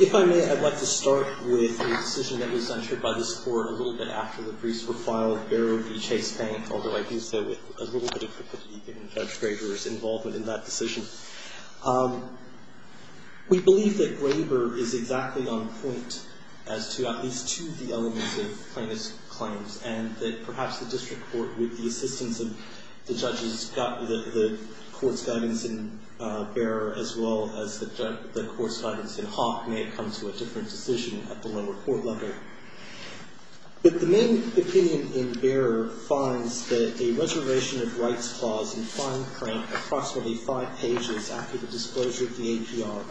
If I may, I'd like to start with a decision that was entered by this Court a little bit after the briefs were filed, Barrow v. Chase Bank, although I do say with a little bit of difficulty in Judge Graber's involvement in that decision. We believe that Graber is exactly on point as to at least two of the elements of plaintiff's claims, and that perhaps the District Court, with the assistance of the Court's guidance in Barrow as well as the Court's guidance in Hawk, may have come to a different decision at the lower court level. But the main opinion in Barrow finds that a reservation of rights clause in fine print approximately five pages after the disclosure of the APR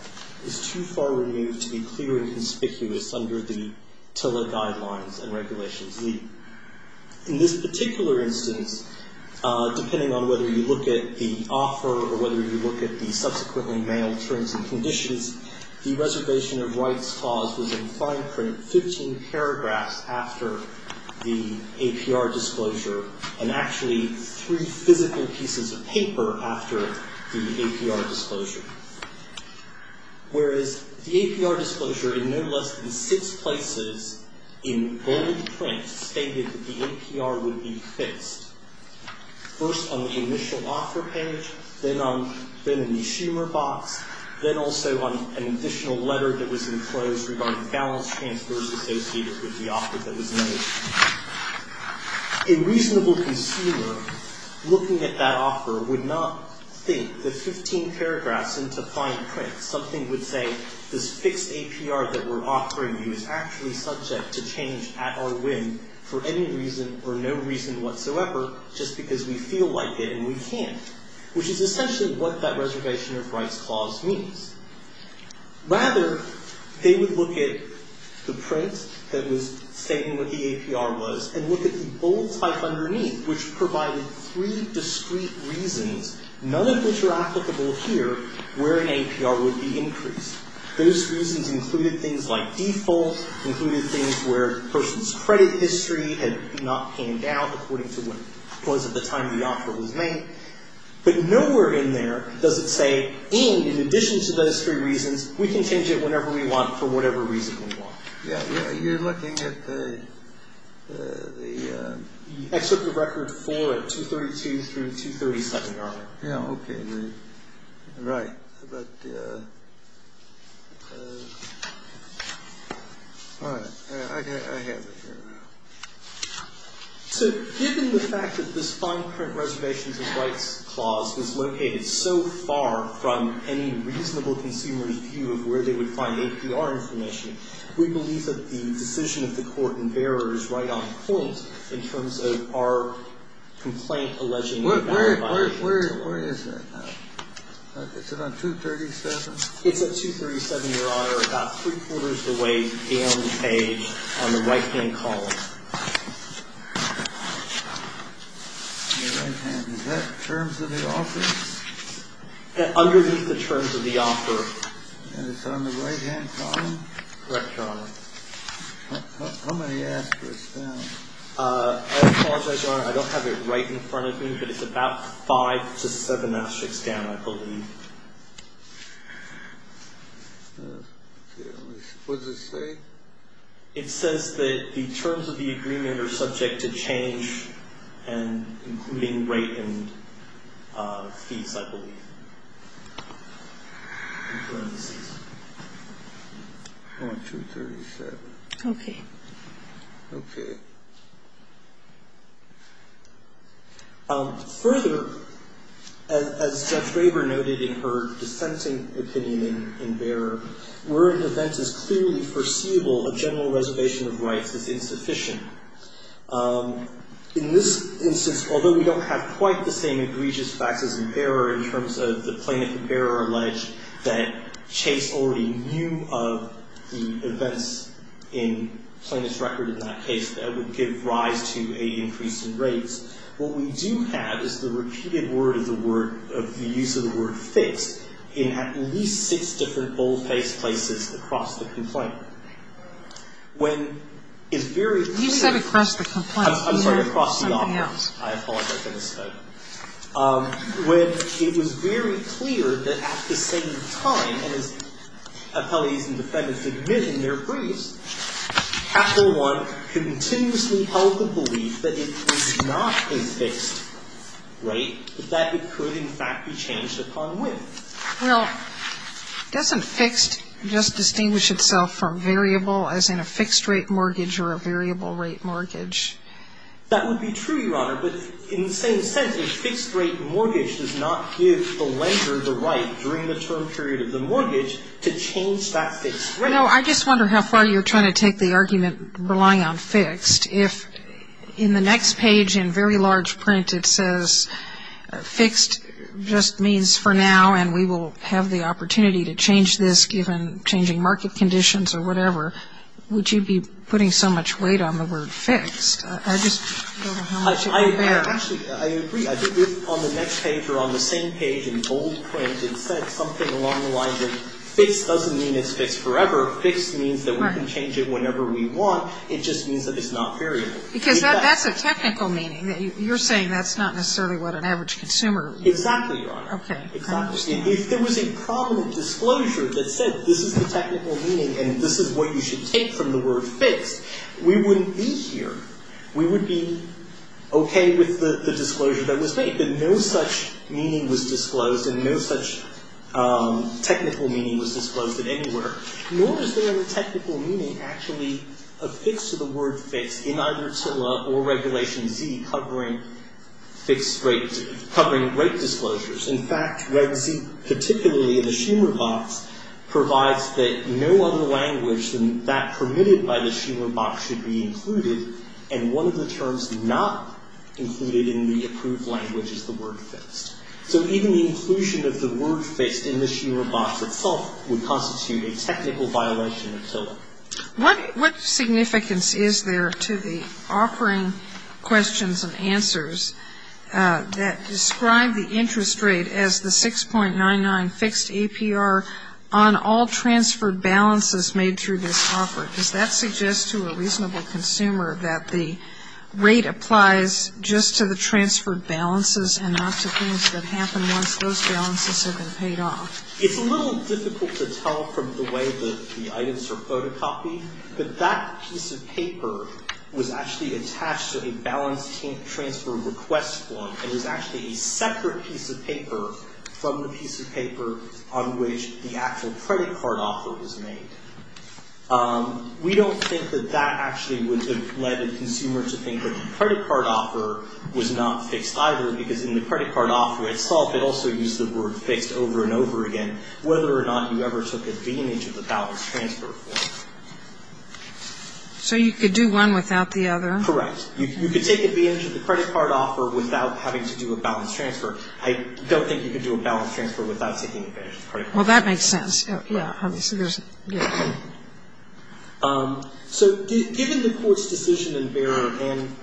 is too far removed to be clear and conspicuous under the TILA guidelines and regulations. In this particular instance, depending on whether you look at the offer or whether you look at the subsequently mailed terms and conditions, the reservation of rights clause was in fine print 15 paragraphs after the APR disclosure, and actually three physical pieces of paper after the APR disclosure. Whereas the APR disclosure in no less than six places in bold print stated that the APR would be fixed, first on the initial offer page, then on the consumer box, then also on an additional letter that was enclosed regarding balance transfers associated with the offer that was made. A reasonable consumer looking at that offer would not think that 15 paragraphs into fine print, something would say this fixed APR that we're offering you is actually subject to change at our whim for any reason or no reason whatsoever just because we feel like it and we can't, which is essentially what that reservation of rights clause means. Rather, they would look at the print that was stating what the APR was and look at the bold type underneath, which provided three discrete reasons, none of which are applicable here, where an APR would be increased. Those reasons included things like default, included things where the person's credit history had not panned out according to what was at the time the offer was made. But nowhere in there does it say, in addition to those three reasons, we can change it whenever we want for whatever reason we want. Yeah, you're looking at the excerpt of record four at 232 through 237. Yeah, okay. Right. But, all right. I have it here. So given the fact that this fine print reservations of rights clause is located so far from any reasonable consumer's view of where they would find APR information, we believe that the decision of the court in Behrer is right on point in terms of our complaint alleging the value violation. Where is that now? Is it on 237? It's at 237, Your Honor, about three-quarters of the way down the page on the right-hand column. On the right-hand. Is that in terms of the offer? Underneath the terms of the offer. And it's on the right-hand column? Correct, Your Honor. How many asterisks down? I apologize, Your Honor. I don't have it right in front of me, but it's about five to seven asterisks down, I believe. What does it say? It says that the terms of the agreement are subject to change, including rate and fees, I believe. On 237. Okay. Further, as Jeff Graver noted in her dissenting opinion in Behrer, where an event is clearly foreseeable, a general reservation of rights is insufficient. In this instance, although we don't have quite the same egregious facts as in Behrer in terms of the plaintiff in Behrer alleged that Chase already knew of the events in Plaintiff's record in that case that would give rise to a increase in rates, what we do have is the repeated word of the word of the use of the word fixed in at least six different bold-faced places across the complaint. When it's very clear. You said across the complaint. I'm sorry, across the offer. Something else. I apologize. I didn't say it. When it was very clear that at the same time, and as appellees and defendants admit in their briefs, Chapter 1 continuously held the belief that it was not a fixed rate, that it could, in fact, be changed upon when. Well, doesn't fixed just distinguish itself from variable, as in a fixed rate mortgage or a variable rate mortgage? That would be true, Your Honor. But in the same sense, a fixed rate mortgage does not give the lender the right during the term period of the mortgage to change that fixed rate. No, I just wonder how far you're trying to take the argument relying on fixed. In the next page, in very large print, it says fixed just means for now, and we will have the opportunity to change this given changing market conditions or whatever. Would you be putting so much weight on the word fixed? I just don't know how much it would bear. Actually, I agree. I think if on the next page or on the same page in bold print it said something along the lines of fixed doesn't mean it's fixed forever. Fixed means that we can change it whenever we want. It just means that it's not variable. Because that's a technical meaning. You're saying that's not necessarily what an average consumer would use. Exactly, Your Honor. Okay. If there was a prominent disclosure that said this is the technical meaning and this is what you should take from the word fixed, we wouldn't be here. We would be okay with the disclosure that was made. But no such meaning was disclosed and no such technical meaning was disclosed in any order, nor is there a technical meaning actually affixed to the word fixed in either TILA or Regulation Z covering great disclosures. In fact, Reg Z, particularly in the Schumer box, provides that no other language than that permitted by the Schumer box should be included, and one of the terms not included in the approved language is the word fixed. So even the inclusion of the word fixed in the Schumer box itself would constitute a technical violation of TILA. What significance is there to the offering questions and answers that describe the interest rate as the 6.99 fixed APR on all transferred balances made through this offer? Does that suggest to a reasonable consumer that the rate applies just to the transferred balances and not to things that happen once those balances have been paid off? It's a little difficult to tell from the way the items are photocopied, but that piece of paper was actually attached to a balance transfer request form. It was actually a separate piece of paper from the piece of paper on which the actual credit card offer was made. We don't think that that actually would have led a consumer to think that the credit card offer was not fixed either, because in the credit card offer itself it also used the word fixed over and over again, whether or not you ever took advantage of the balance transfer form. So you could do one without the other? Correct. You could take advantage of the credit card offer without having to do a balance transfer. I don't think you could do a balance transfer without taking advantage of the credit card offer. Well, that makes sense. Yeah. So given the Court's decision in Behrer and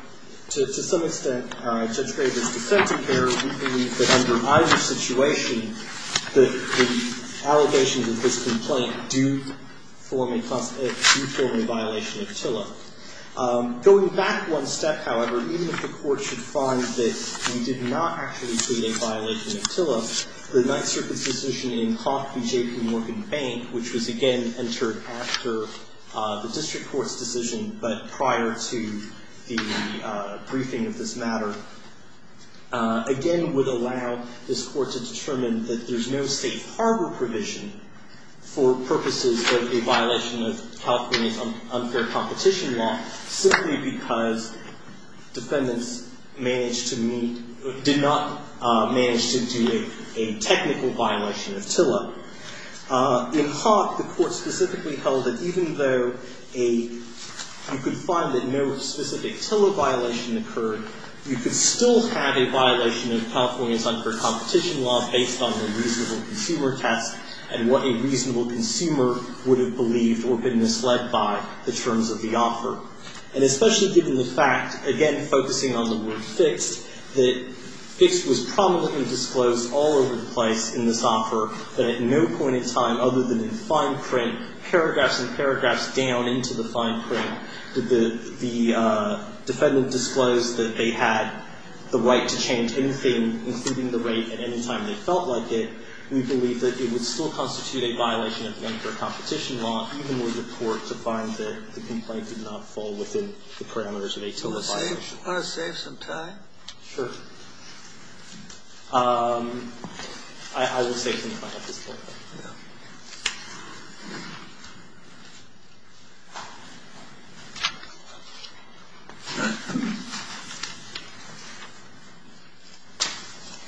to some extent Judge Graber's defense in Behrer, we believe that under either situation the allegations of this complaint do form a violation of TILA. Going back one step, however, even if the Court should find that we did not actually create a violation of TILA, the Ninth Circuit's decision in Hough v. J.P. Morgan Bank, which was again entered after the District Court's decision but prior to the briefing of this matter, again would allow this Court to determine that there's no state harbor provision for purposes of a violation of California's unfair competition law simply because defendants did not manage to do a technical violation of TILA. In Hough, the Court specifically held that even though you could find that no specific TILA violation occurred, you could still have a violation of California's unfair competition law based on the reasonable consumer test and what a reasonable consumer would have believed or been misled by the terms of the offer. And especially given the fact, again focusing on the word fixed, that fixed was prominently disclosed all over the place in this offer, that at no point in time other than in fine print, paragraphs and paragraphs down into the fine print, did the defendant disclose that they had the right to change anything, including the rate at any time they felt like it, we believe that it would still constitute a violation of the unfair competition law even with the Court to find that the complaint did not fall within the parameters of a TILA violation. Do you want to save some time? Sure. I will save some time at this point.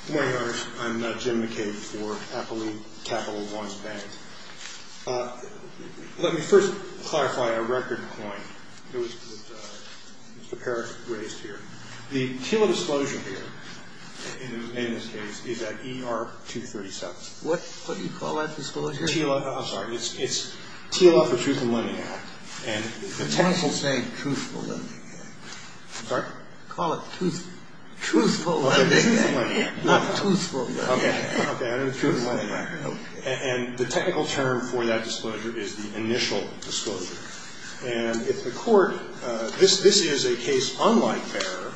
Good morning, Your Honor. I'm Jim McCabe for Appalooh Capital Law and Spanning. Let me first clarify a record point that Mr. Parrish raised here. The TILA disclosure here, in this case, is at ER 237. What do you call that disclosure? I'm sorry. It's TILA for Truth and Lending Act. The counsel is saying Truthful Lending Act. I'm sorry? Call it Truthful Lending Act, not Truthful Lending Act. Okay. And the technical term for that disclosure is the initial disclosure. And if the Court – this is a case unlike Parrish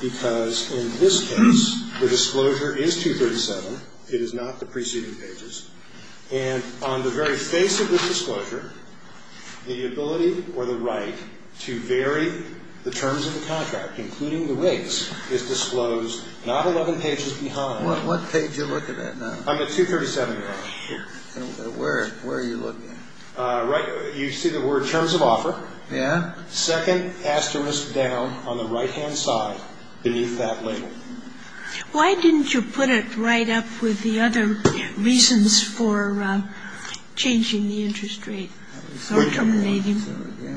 because in this case the disclosure is 237. It is not the preceding pages. And on the very face of this disclosure, the ability or the right to vary the terms of the contract, including the rates, is disclosed not 11 pages behind. What page are you looking at now? I'm at 237, Your Honor. Where are you looking? Right – you see the word Terms of Offer? Yeah. Second asterisk down on the right-hand side beneath that label. Why didn't you put it right up with the other reasons for changing the interest rate or terminating?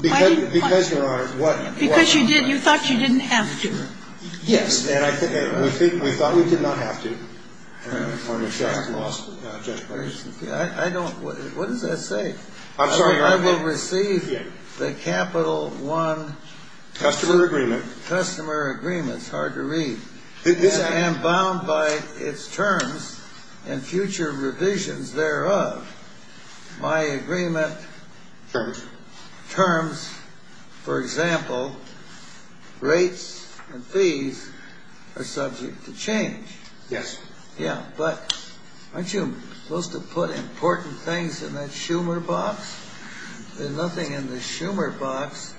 Because, Your Honor, what – Because you did – you thought you didn't have to. Yes. We thought we did not have to. I don't – what does that say? I'm sorry. I will receive the Capital One – Customer Agreement. Customer Agreement. That's hard to read. I am bound by its terms and future revisions thereof. My agreement – Terms. Terms. For example, rates and fees are subject to change. Yes. Yeah, but aren't you supposed to put important things in that Schumer box? There's nothing in the Schumer box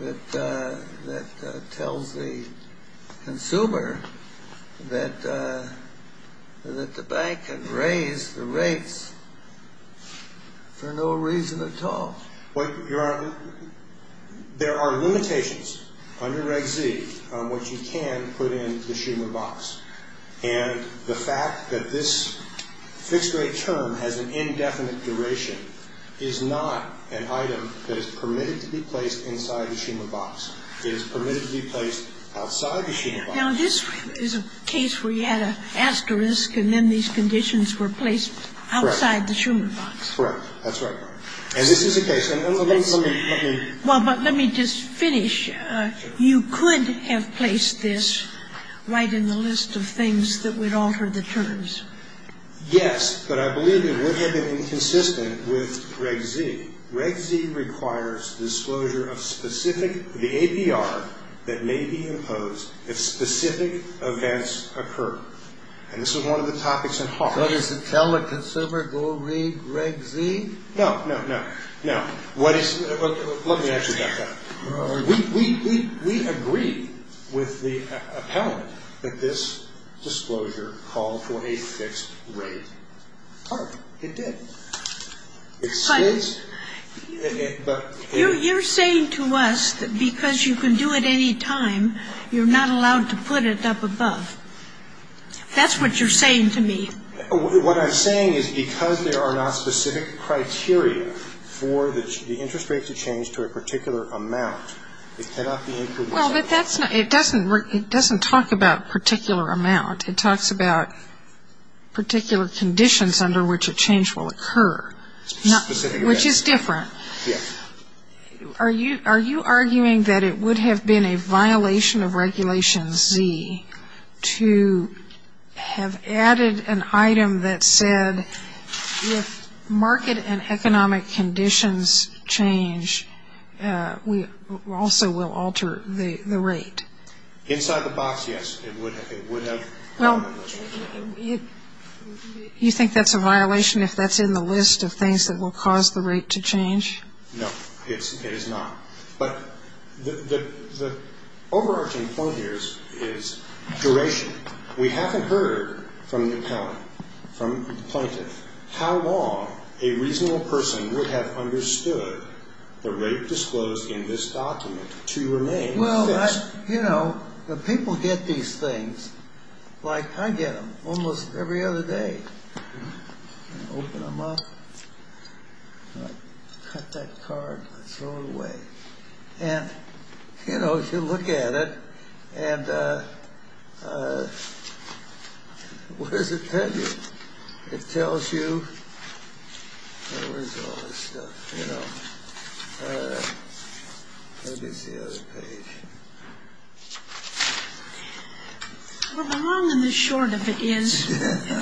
that tells the consumer that the bank can raise the rates for no reason at all. Well, Your Honor, there are limitations under Reg Z on what you can put in the Schumer box. And the fact that this fixed rate term has an indefinite duration is not an item that is permitted to be placed inside the Schumer box. It is permitted to be placed outside the Schumer box. Now, this is a case where you had an asterisk and then these conditions were placed outside the Schumer box. Correct. That's right. And this is a case – let me – let me – You could have placed this right in the list of things that would alter the terms. Yes, but I believe it would have been inconsistent with Reg Z. Reg Z requires disclosure of specific – the APR that may be imposed if specific events occur. And this is one of the topics at heart. So does it tell the consumer, go read Reg Z? No, no, no. No. What is – let me ask you about that. We agree with the appellant that this disclosure called for a fixed rate target. It did. But you're saying to us that because you can do it any time, you're not allowed to put it up above. That's what you're saying to me. What I'm saying is because there are not specific criteria for the interest rate to change to a particular amount, it cannot be included. Well, but that's not – it doesn't talk about particular amount. It talks about particular conditions under which a change will occur. Specific events. Which is different. Yes. Are you arguing that it would have been a violation of Regulation Z to have added an item that said, if market and economic conditions change, we also will alter the rate? Inside the box, yes. It would have. Well, you think that's a violation if that's in the list of things that will cause the rate to change? No, it is not. But the overarching point here is duration. We haven't heard from the appellant, from the plaintiff, how long a reasonable person would have understood the rate disclosed in this document to remain fixed. Well, you know, the people get these things like I get them almost every other day. Open them up. Cut that card and throw it away. And, you know, if you look at it, and what does it tell you? It tells you – where is all this stuff? You know. Maybe it's the other page. Well, the long and the short of it is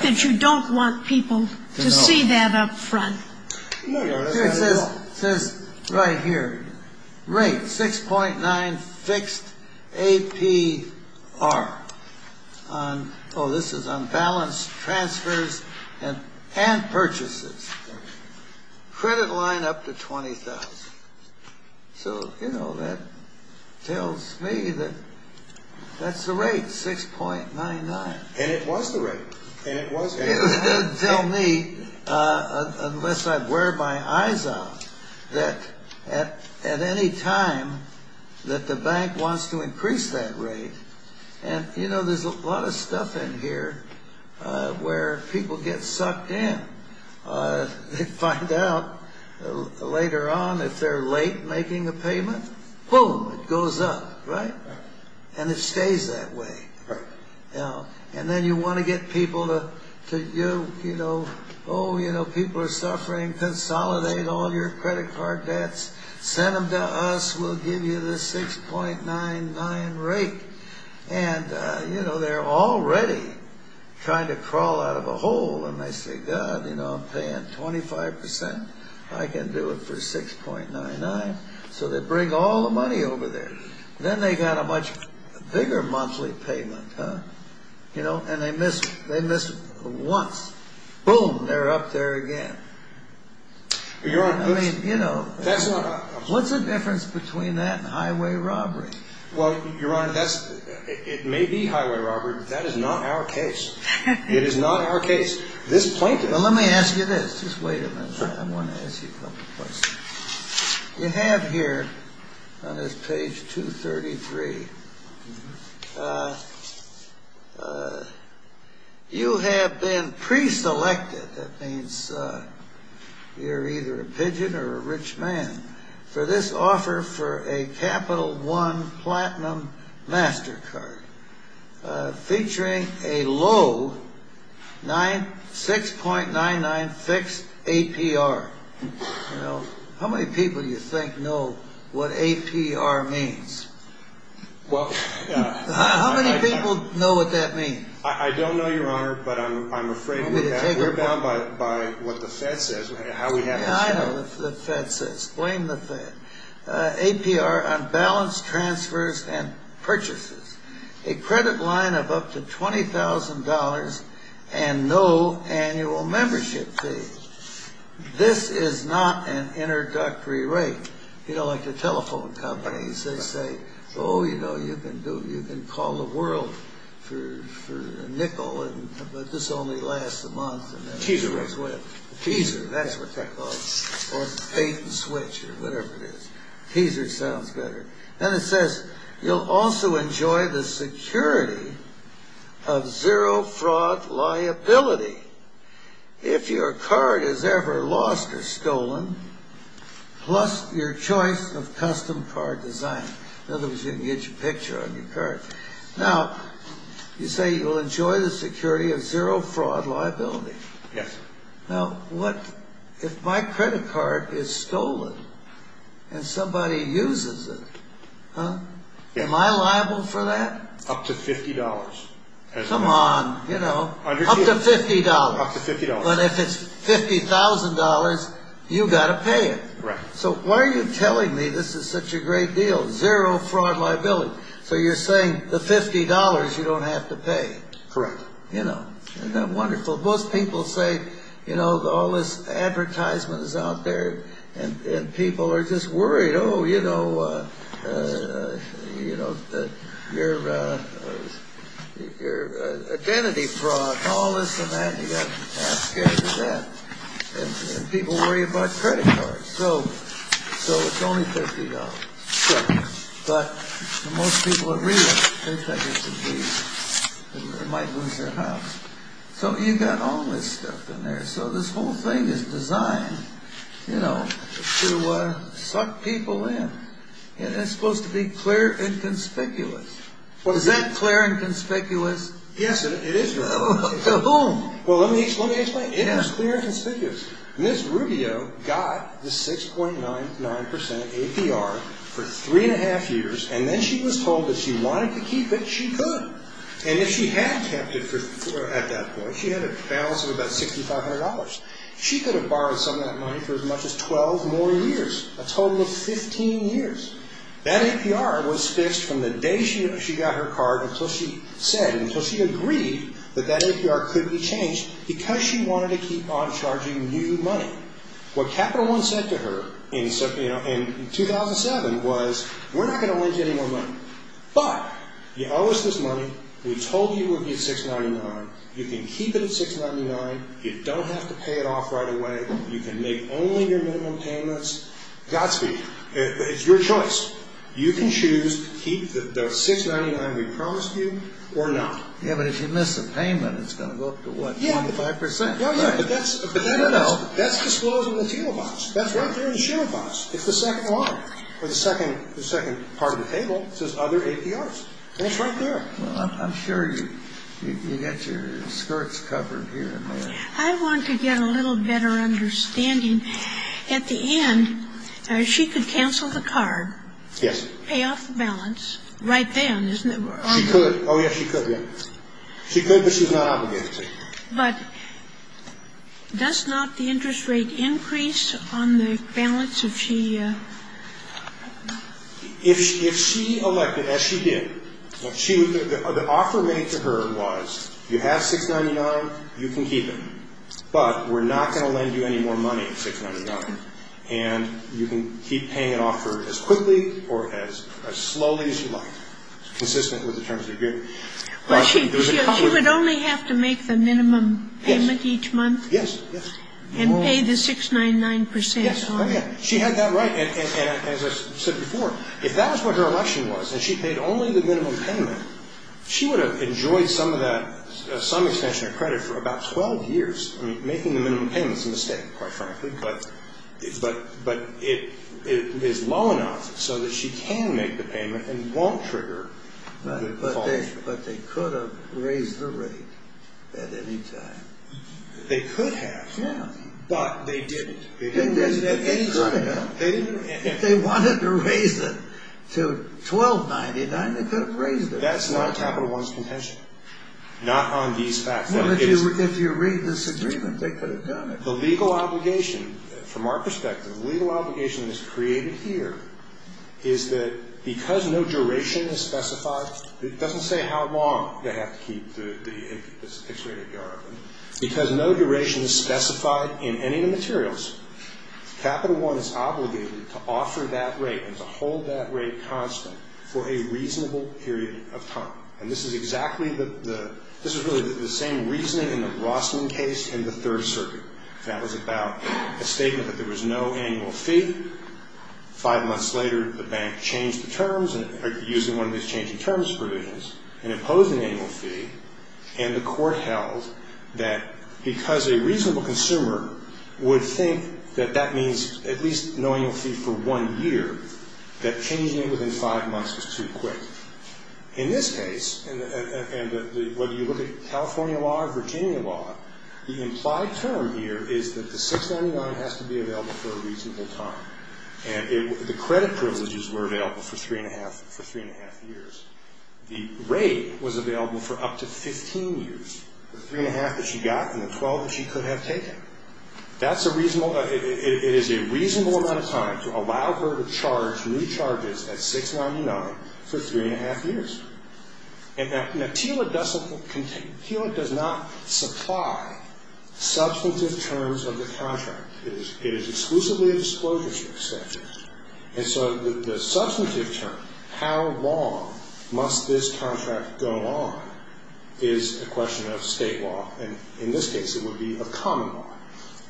that you don't want people to see that up front. No, no, that's not at all. It says right here, rate 6.9 fixed APR. Oh, this is on balance transfers and purchases. Credit line up to $20,000. So, you know, that tells me that that's the rate, 6.99. And it was the rate. It doesn't tell me, unless I wear my eyes out, that at any time that the bank wants to increase that rate. And, you know, there's a lot of stuff in here where people get sucked in. They find out later on if they're late making a payment. Boom, it goes up, right? And it stays that way. And then you want to get people to, you know, oh, you know, people are suffering. Consolidate all your credit card debts. Send them to us. We'll give you the 6.99 rate. And, you know, they're already trying to crawl out of a hole. And they say, God, you know, I'm paying 25%. I can do it for 6.99. So they bring all the money over there. Then they got a much bigger monthly payment, huh? You know, and they miss once. Boom, they're up there again. Your Honor, that's not a... I mean, you know, what's the difference between that and highway robbery? Well, Your Honor, it may be highway robbery, but that is not our case. It is not our case. This plaintiff... Well, let me ask you this. Just wait a minute. I want to ask you a couple questions. You have here on this page 233, you have been preselected. That means you're either a pigeon or a rich man. For this offer for a Capital One Platinum MasterCard featuring a low 6.99 fixed APR. You know, how many people do you think know what APR means? How many people know what that means? I don't know, Your Honor, but I'm afraid we're bound by what the Fed says. I know what the Fed says. Blame the Fed. APR on balance transfers and purchases. A credit line of up to $20,000 and no annual membership fee. This is not an introductory rate. You know, like the telephone companies, they say, Oh, you know, you can call the world for nickel, but this only lasts a month. Teaser. Teaser, that's what they call it. Or pay to switch or whatever it is. Teaser sounds better. Then it says, you'll also enjoy the security of zero fraud liability. If your card is ever lost or stolen, plus your choice of custom card design. In other words, you can get your picture on your card. Now, you say you'll enjoy the security of zero fraud liability. Yes, sir. Now, what if my credit card is stolen and somebody uses it? Am I liable for that? Up to $50. Come on. You know, up to $50. Up to $50. But if it's $50,000, you've got to pay it. Right. So why are you telling me this is such a great deal? Zero fraud liability. So you're saying the $50 you don't have to pay. Correct. Isn't that wonderful? Most people say, you know, all this advertisement is out there and people are just worried. Oh, you know, your identity fraud, all this and that. You got half scared of that. And people worry about credit cards. So it's only $50. Correct. But most people agree with it. It might lose their house. So you got all this stuff in there. So this whole thing is designed, you know, to suck people in. And it's supposed to be clear and conspicuous. Is that clear and conspicuous? Yes, it is. Boom. Well, let me explain. It is clear and conspicuous. Ms. Rubio got the 6.99% APR for three and a half years. And then she was told if she wanted to keep it, she could. And if she had kept it at that point, she had a balance of about $6,500. She could have borrowed some of that money for as much as 12 more years, a total of 15 years. That APR was fixed from the day she got her card until she said, until she agreed that that APR could be changed because she wanted to keep on charging new money. What Capital One said to her in 2007 was, We're not going to lend you any more money, but you owe us this money. We told you it would be $6.99. You can keep it at $6.99. You don't have to pay it off right away. You can make only your minimum payments. Godspeed. It's your choice. You can choose to keep the $6.99 we promised you or not. Yeah, but if you miss a payment, it's going to go up to, what, 25%? No, no. But that's disclosing the T-Mobile box. That's right there in the T-Mobile box. It's the second line. Or the second part of the table says Other APRs. And it's right there. Well, I'm sure you got your skirts covered here and there. I want to get a little better understanding. At the end, she could cancel the card. Yes. Pay off the balance right then, isn't it? She could. Oh, yeah, she could, yeah. She could, but she's not obligated to. But does not the interest rate increase on the balance if she? If she elected, as she did, the offer made to her was, You have $6.99, you can keep it. But we're not going to lend you any more money at $6.99. And you can keep paying an offer as quickly or as slowly as you like, consistent with the terms of your agreement. Well, she would only have to make the minimum payment each month? Yes, yes. And pay the 6.99%? Yes, oh, yeah. She had that right. And as I said before, if that was what her election was, and she paid only the minimum payment, she would have enjoyed some extension of credit for about 12 years. I mean, making the minimum payment is a mistake, quite frankly. But it is low enough so that she can make the payment and won't trigger the follow-through. But they could have raised the rate at any time. They could have. Yeah. But they didn't. They didn't raise it at any time. They could have. They could have raised it to $12.99. They could have raised it. That's not Capital One's contention, not on these facts. Well, if you read this agreement, they could have done it. The legal obligation, from our perspective, the legal obligation that's created here is that because no duration is specified, it doesn't say how long they have to keep the fixed rate APR open. Because no duration is specified in any of the materials, Capital One is obligated to offer that rate and to hold that rate constant for a reasonable period of time. And this is exactly the – this is really the same reasoning in the Rossman case and the Third Circuit. That was about a statement that there was no annual fee. Five months later, the bank changed the terms, using one of these changing terms provisions, and imposed an annual fee. And the court held that because a reasonable consumer would think that that means at least no annual fee for one year, that changing it within five months was too quick. In this case, and whether you look at California law or Virginia law, the implied term here is that the $6.99 has to be available for a reasonable time. And the credit privileges were available for three and a half years. The rate was available for up to 15 years, the three and a half that she got and the 12 that she could have taken. That's a reasonable – it is a reasonable amount of time to allow her to charge new charges at $6.99 for three and a half years. Now, TILA does not supply substantive terms of the contract. It is exclusively a disclosures statute. And so the substantive term, how long must this contract go on, is a question of state law. And in this case, it would be a common law.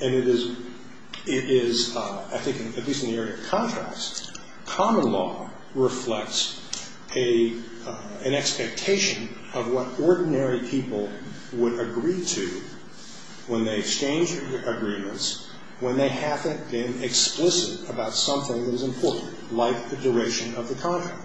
And it is, I think, at least in the area of contracts, common law reflects an expectation of what ordinary people would agree to when they exchange agreements when they haven't been explicit about something that is important, like the duration of the contract.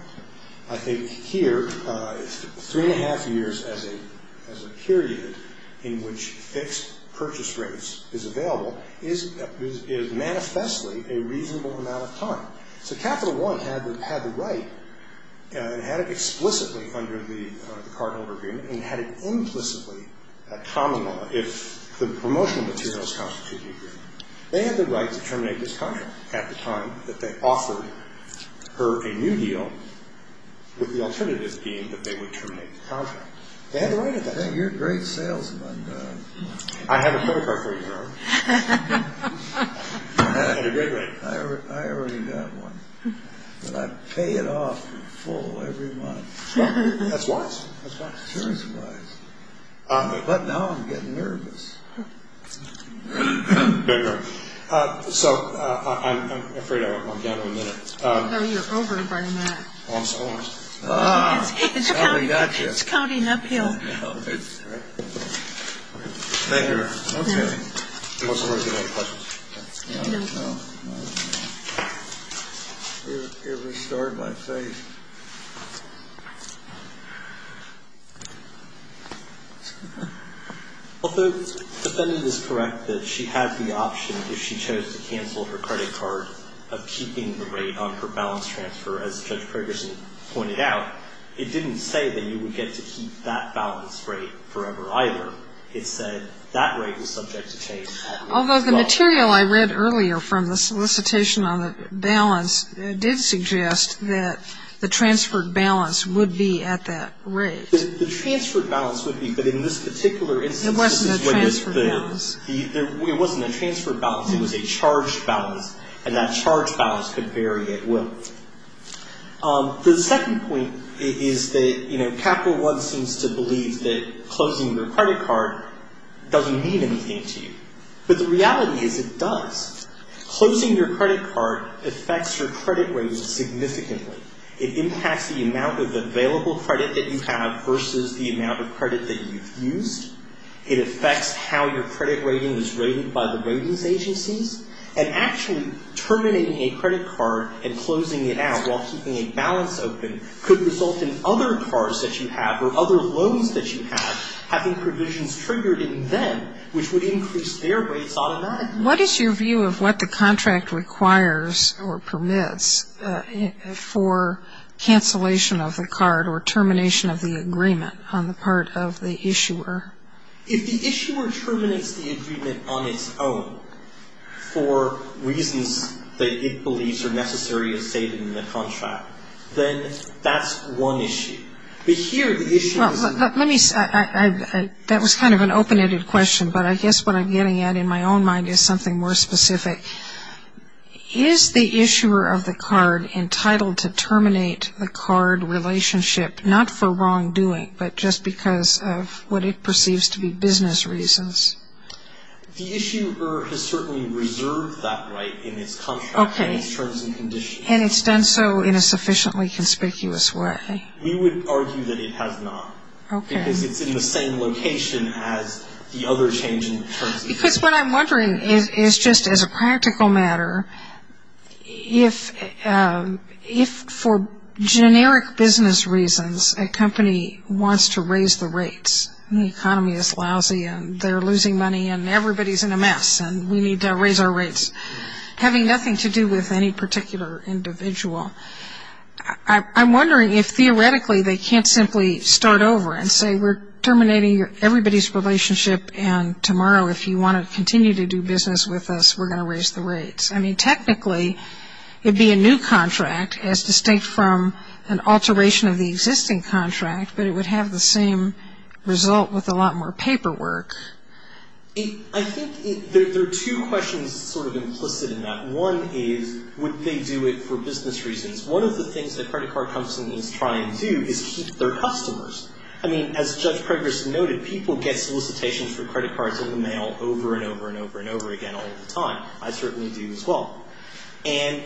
I think here, three and a half years as a period in which fixed purchase rates is available is manifestly a reasonable amount of time. So Capital One had the right and had it explicitly under the cardholder agreement and had it implicitly a common law if the promotional materials constituted the agreement. They had the right to terminate this contract at the time that they offered her a new deal with the alternatives being that they would terminate the contract. They had the right at that time. You're a great salesman. I have a credit card for you, sir. I already got one. But I pay it off in full every month. That's wise. That's wise. But now I'm getting nervous. So I'm afraid I'm down to a minute. No, you're over by a minute. Oh, I'm sorry. It's counting uphill. Thank you. Okay. I'm sorry if you have any questions. No. It restored my faith. Thank you. Although the defendant is correct that she had the option if she chose to cancel her credit card of keeping the rate on her balance transfer, as Judge Ferguson pointed out, it didn't say that you would get to keep that balance rate forever either. It said that rate was subject to change. Although the material I read earlier from the solicitation on the balance did suggest that the transferred balance would be at that rate. The transferred balance would be. But in this particular instance, this is what this bill is. It wasn't a transferred balance. It wasn't a transferred balance. It was a charged balance. And that charged balance could vary at will. The second point is that Capital One seems to believe that closing your credit card doesn't mean anything to you. But the reality is it does. Closing your credit card affects your credit rating significantly. It impacts the amount of available credit that you have versus the amount of credit that you've used. It affects how your credit rating is rated by the ratings agencies. And actually terminating a credit card and closing it out while keeping a balance open could result in other cards that you have or other loans that you have having provisions triggered in them which would increase their rates automatically. What is your view of what the contract requires or permits for cancellation of the card or termination of the agreement on the part of the issuer? If the issuer terminates the agreement on its own for reasons that it believes are necessary as stated in the contract, then that's one issue. But here the issue is. Well, let me. That was kind of an open-ended question. But I guess what I'm getting at in my own mind is something more specific. Is the issuer of the card entitled to terminate the card relationship not for wrongdoing but just because of what it perceives to be business reasons? The issuer has certainly reserved that right in its contract. Okay. In its terms and conditions. And it's done so in a sufficiently conspicuous way. We would argue that it has not. Okay. Because it's in the same location as the other change in terms of. Because what I'm wondering is just as a practical matter, if for generic business reasons a company wants to raise the rates, and the economy is lousy and they're losing money and everybody's in a mess and we need to raise our rates, having nothing to do with any particular individual, I'm wondering if theoretically they can't simply start over and say we're terminating everybody's relationship and tomorrow if you want to continue to do business with us we're going to raise the rates. I mean, technically it would be a new contract as distinct from an alteration of the existing contract, but it would have the same result with a lot more paperwork. I think there are two questions sort of implicit in that. One is would they do it for business reasons? One of the things that credit card companies try and do is keep their customers. I mean, as Judge Preggers noted, people get solicitations for credit cards in the mail over and over and over and over again all the time. I certainly do as well. And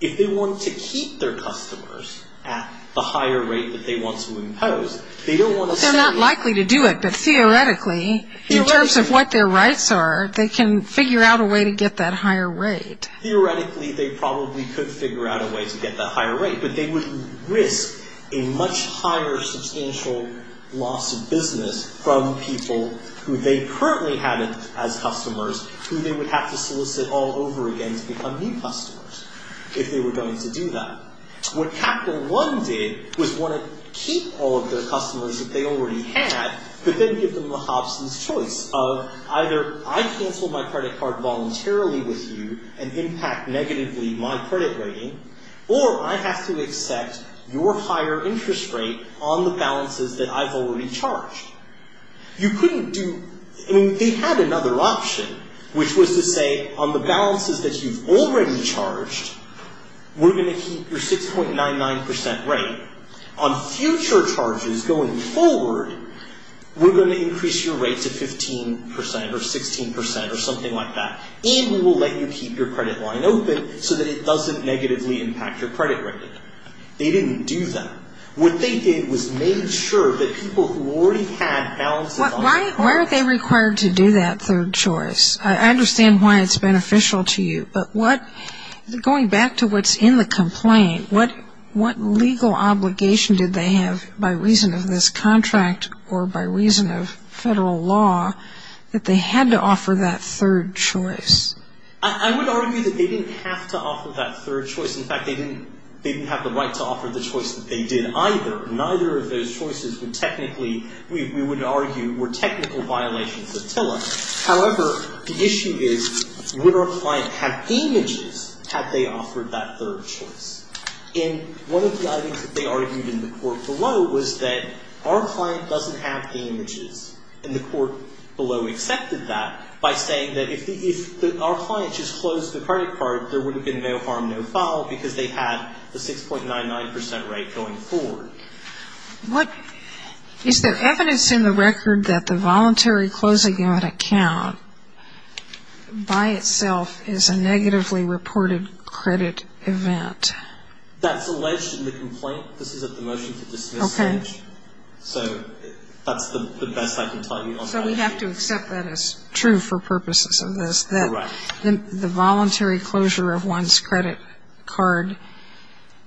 if they want to keep their customers at the higher rate that they want to impose, they don't want to say. They're not likely to do it, but theoretically in terms of what their rights are, they can figure out a way to get that higher rate. Theoretically they probably could figure out a way to get that higher rate, but they would risk a much higher substantial loss of business from people who they currently have as customers who they would have to solicit all over again to become new customers if they were going to do that. What Capital One did was want to keep all of their customers that they already had, but then give them a Hobson's choice of either I cancel my credit card voluntarily with you and impact negatively my credit rating, or I have to accept your higher interest rate on the balances that I've already charged. You couldn't do, I mean, they had another option, which was to say on the balances that you've already charged, we're going to keep your 6.99% rate. On future charges going forward, we're going to increase your rate to 15% or 16% or something like that, and we will let you keep your credit line open so that it doesn't negatively impact your credit rating. They didn't do that. What they did was made sure that people who already had balances on their cards. Why are they required to do that third choice? I understand why it's beneficial to you, but going back to what's in the complaint, what legal obligation did they have by reason of this contract or by reason of federal law that they had to offer that third choice? I would argue that they didn't have to offer that third choice. In fact, they didn't have the right to offer the choice that they did either. Neither of those choices would technically, we would argue, were technical violations of TILA. However, the issue is would our client have images had they offered that third choice? And one of the items that they argued in the court below was that our client doesn't have the images. And the court below accepted that by saying that if our client just closed the credit card, there would have been no harm, no foul because they had the 6.99% rate going forward. Is there evidence in the record that the voluntary closing of an account by itself is a negatively reported credit event? That's alleged in the complaint. This is at the motion to dismiss stage. Okay. So that's the best I can tell you on that. So we have to accept that as true for purposes of this. Correct. The voluntary closure of one's credit card,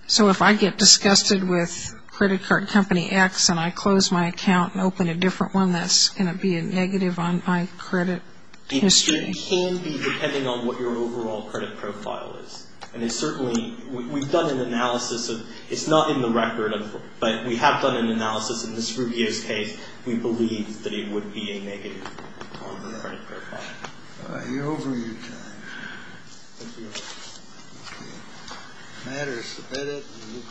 so if I get disgusted with credit card company X and I close my account and open a different one, that's going to be a negative on my credit history. It can be depending on what your overall credit profile is. And it's certainly, we've done an analysis of, it's not in the record, but we have done an analysis in this Rubio's case, we believe that it would be a negative on the credit profile. You're over your time. Thank you. Okay. Matter is submitted.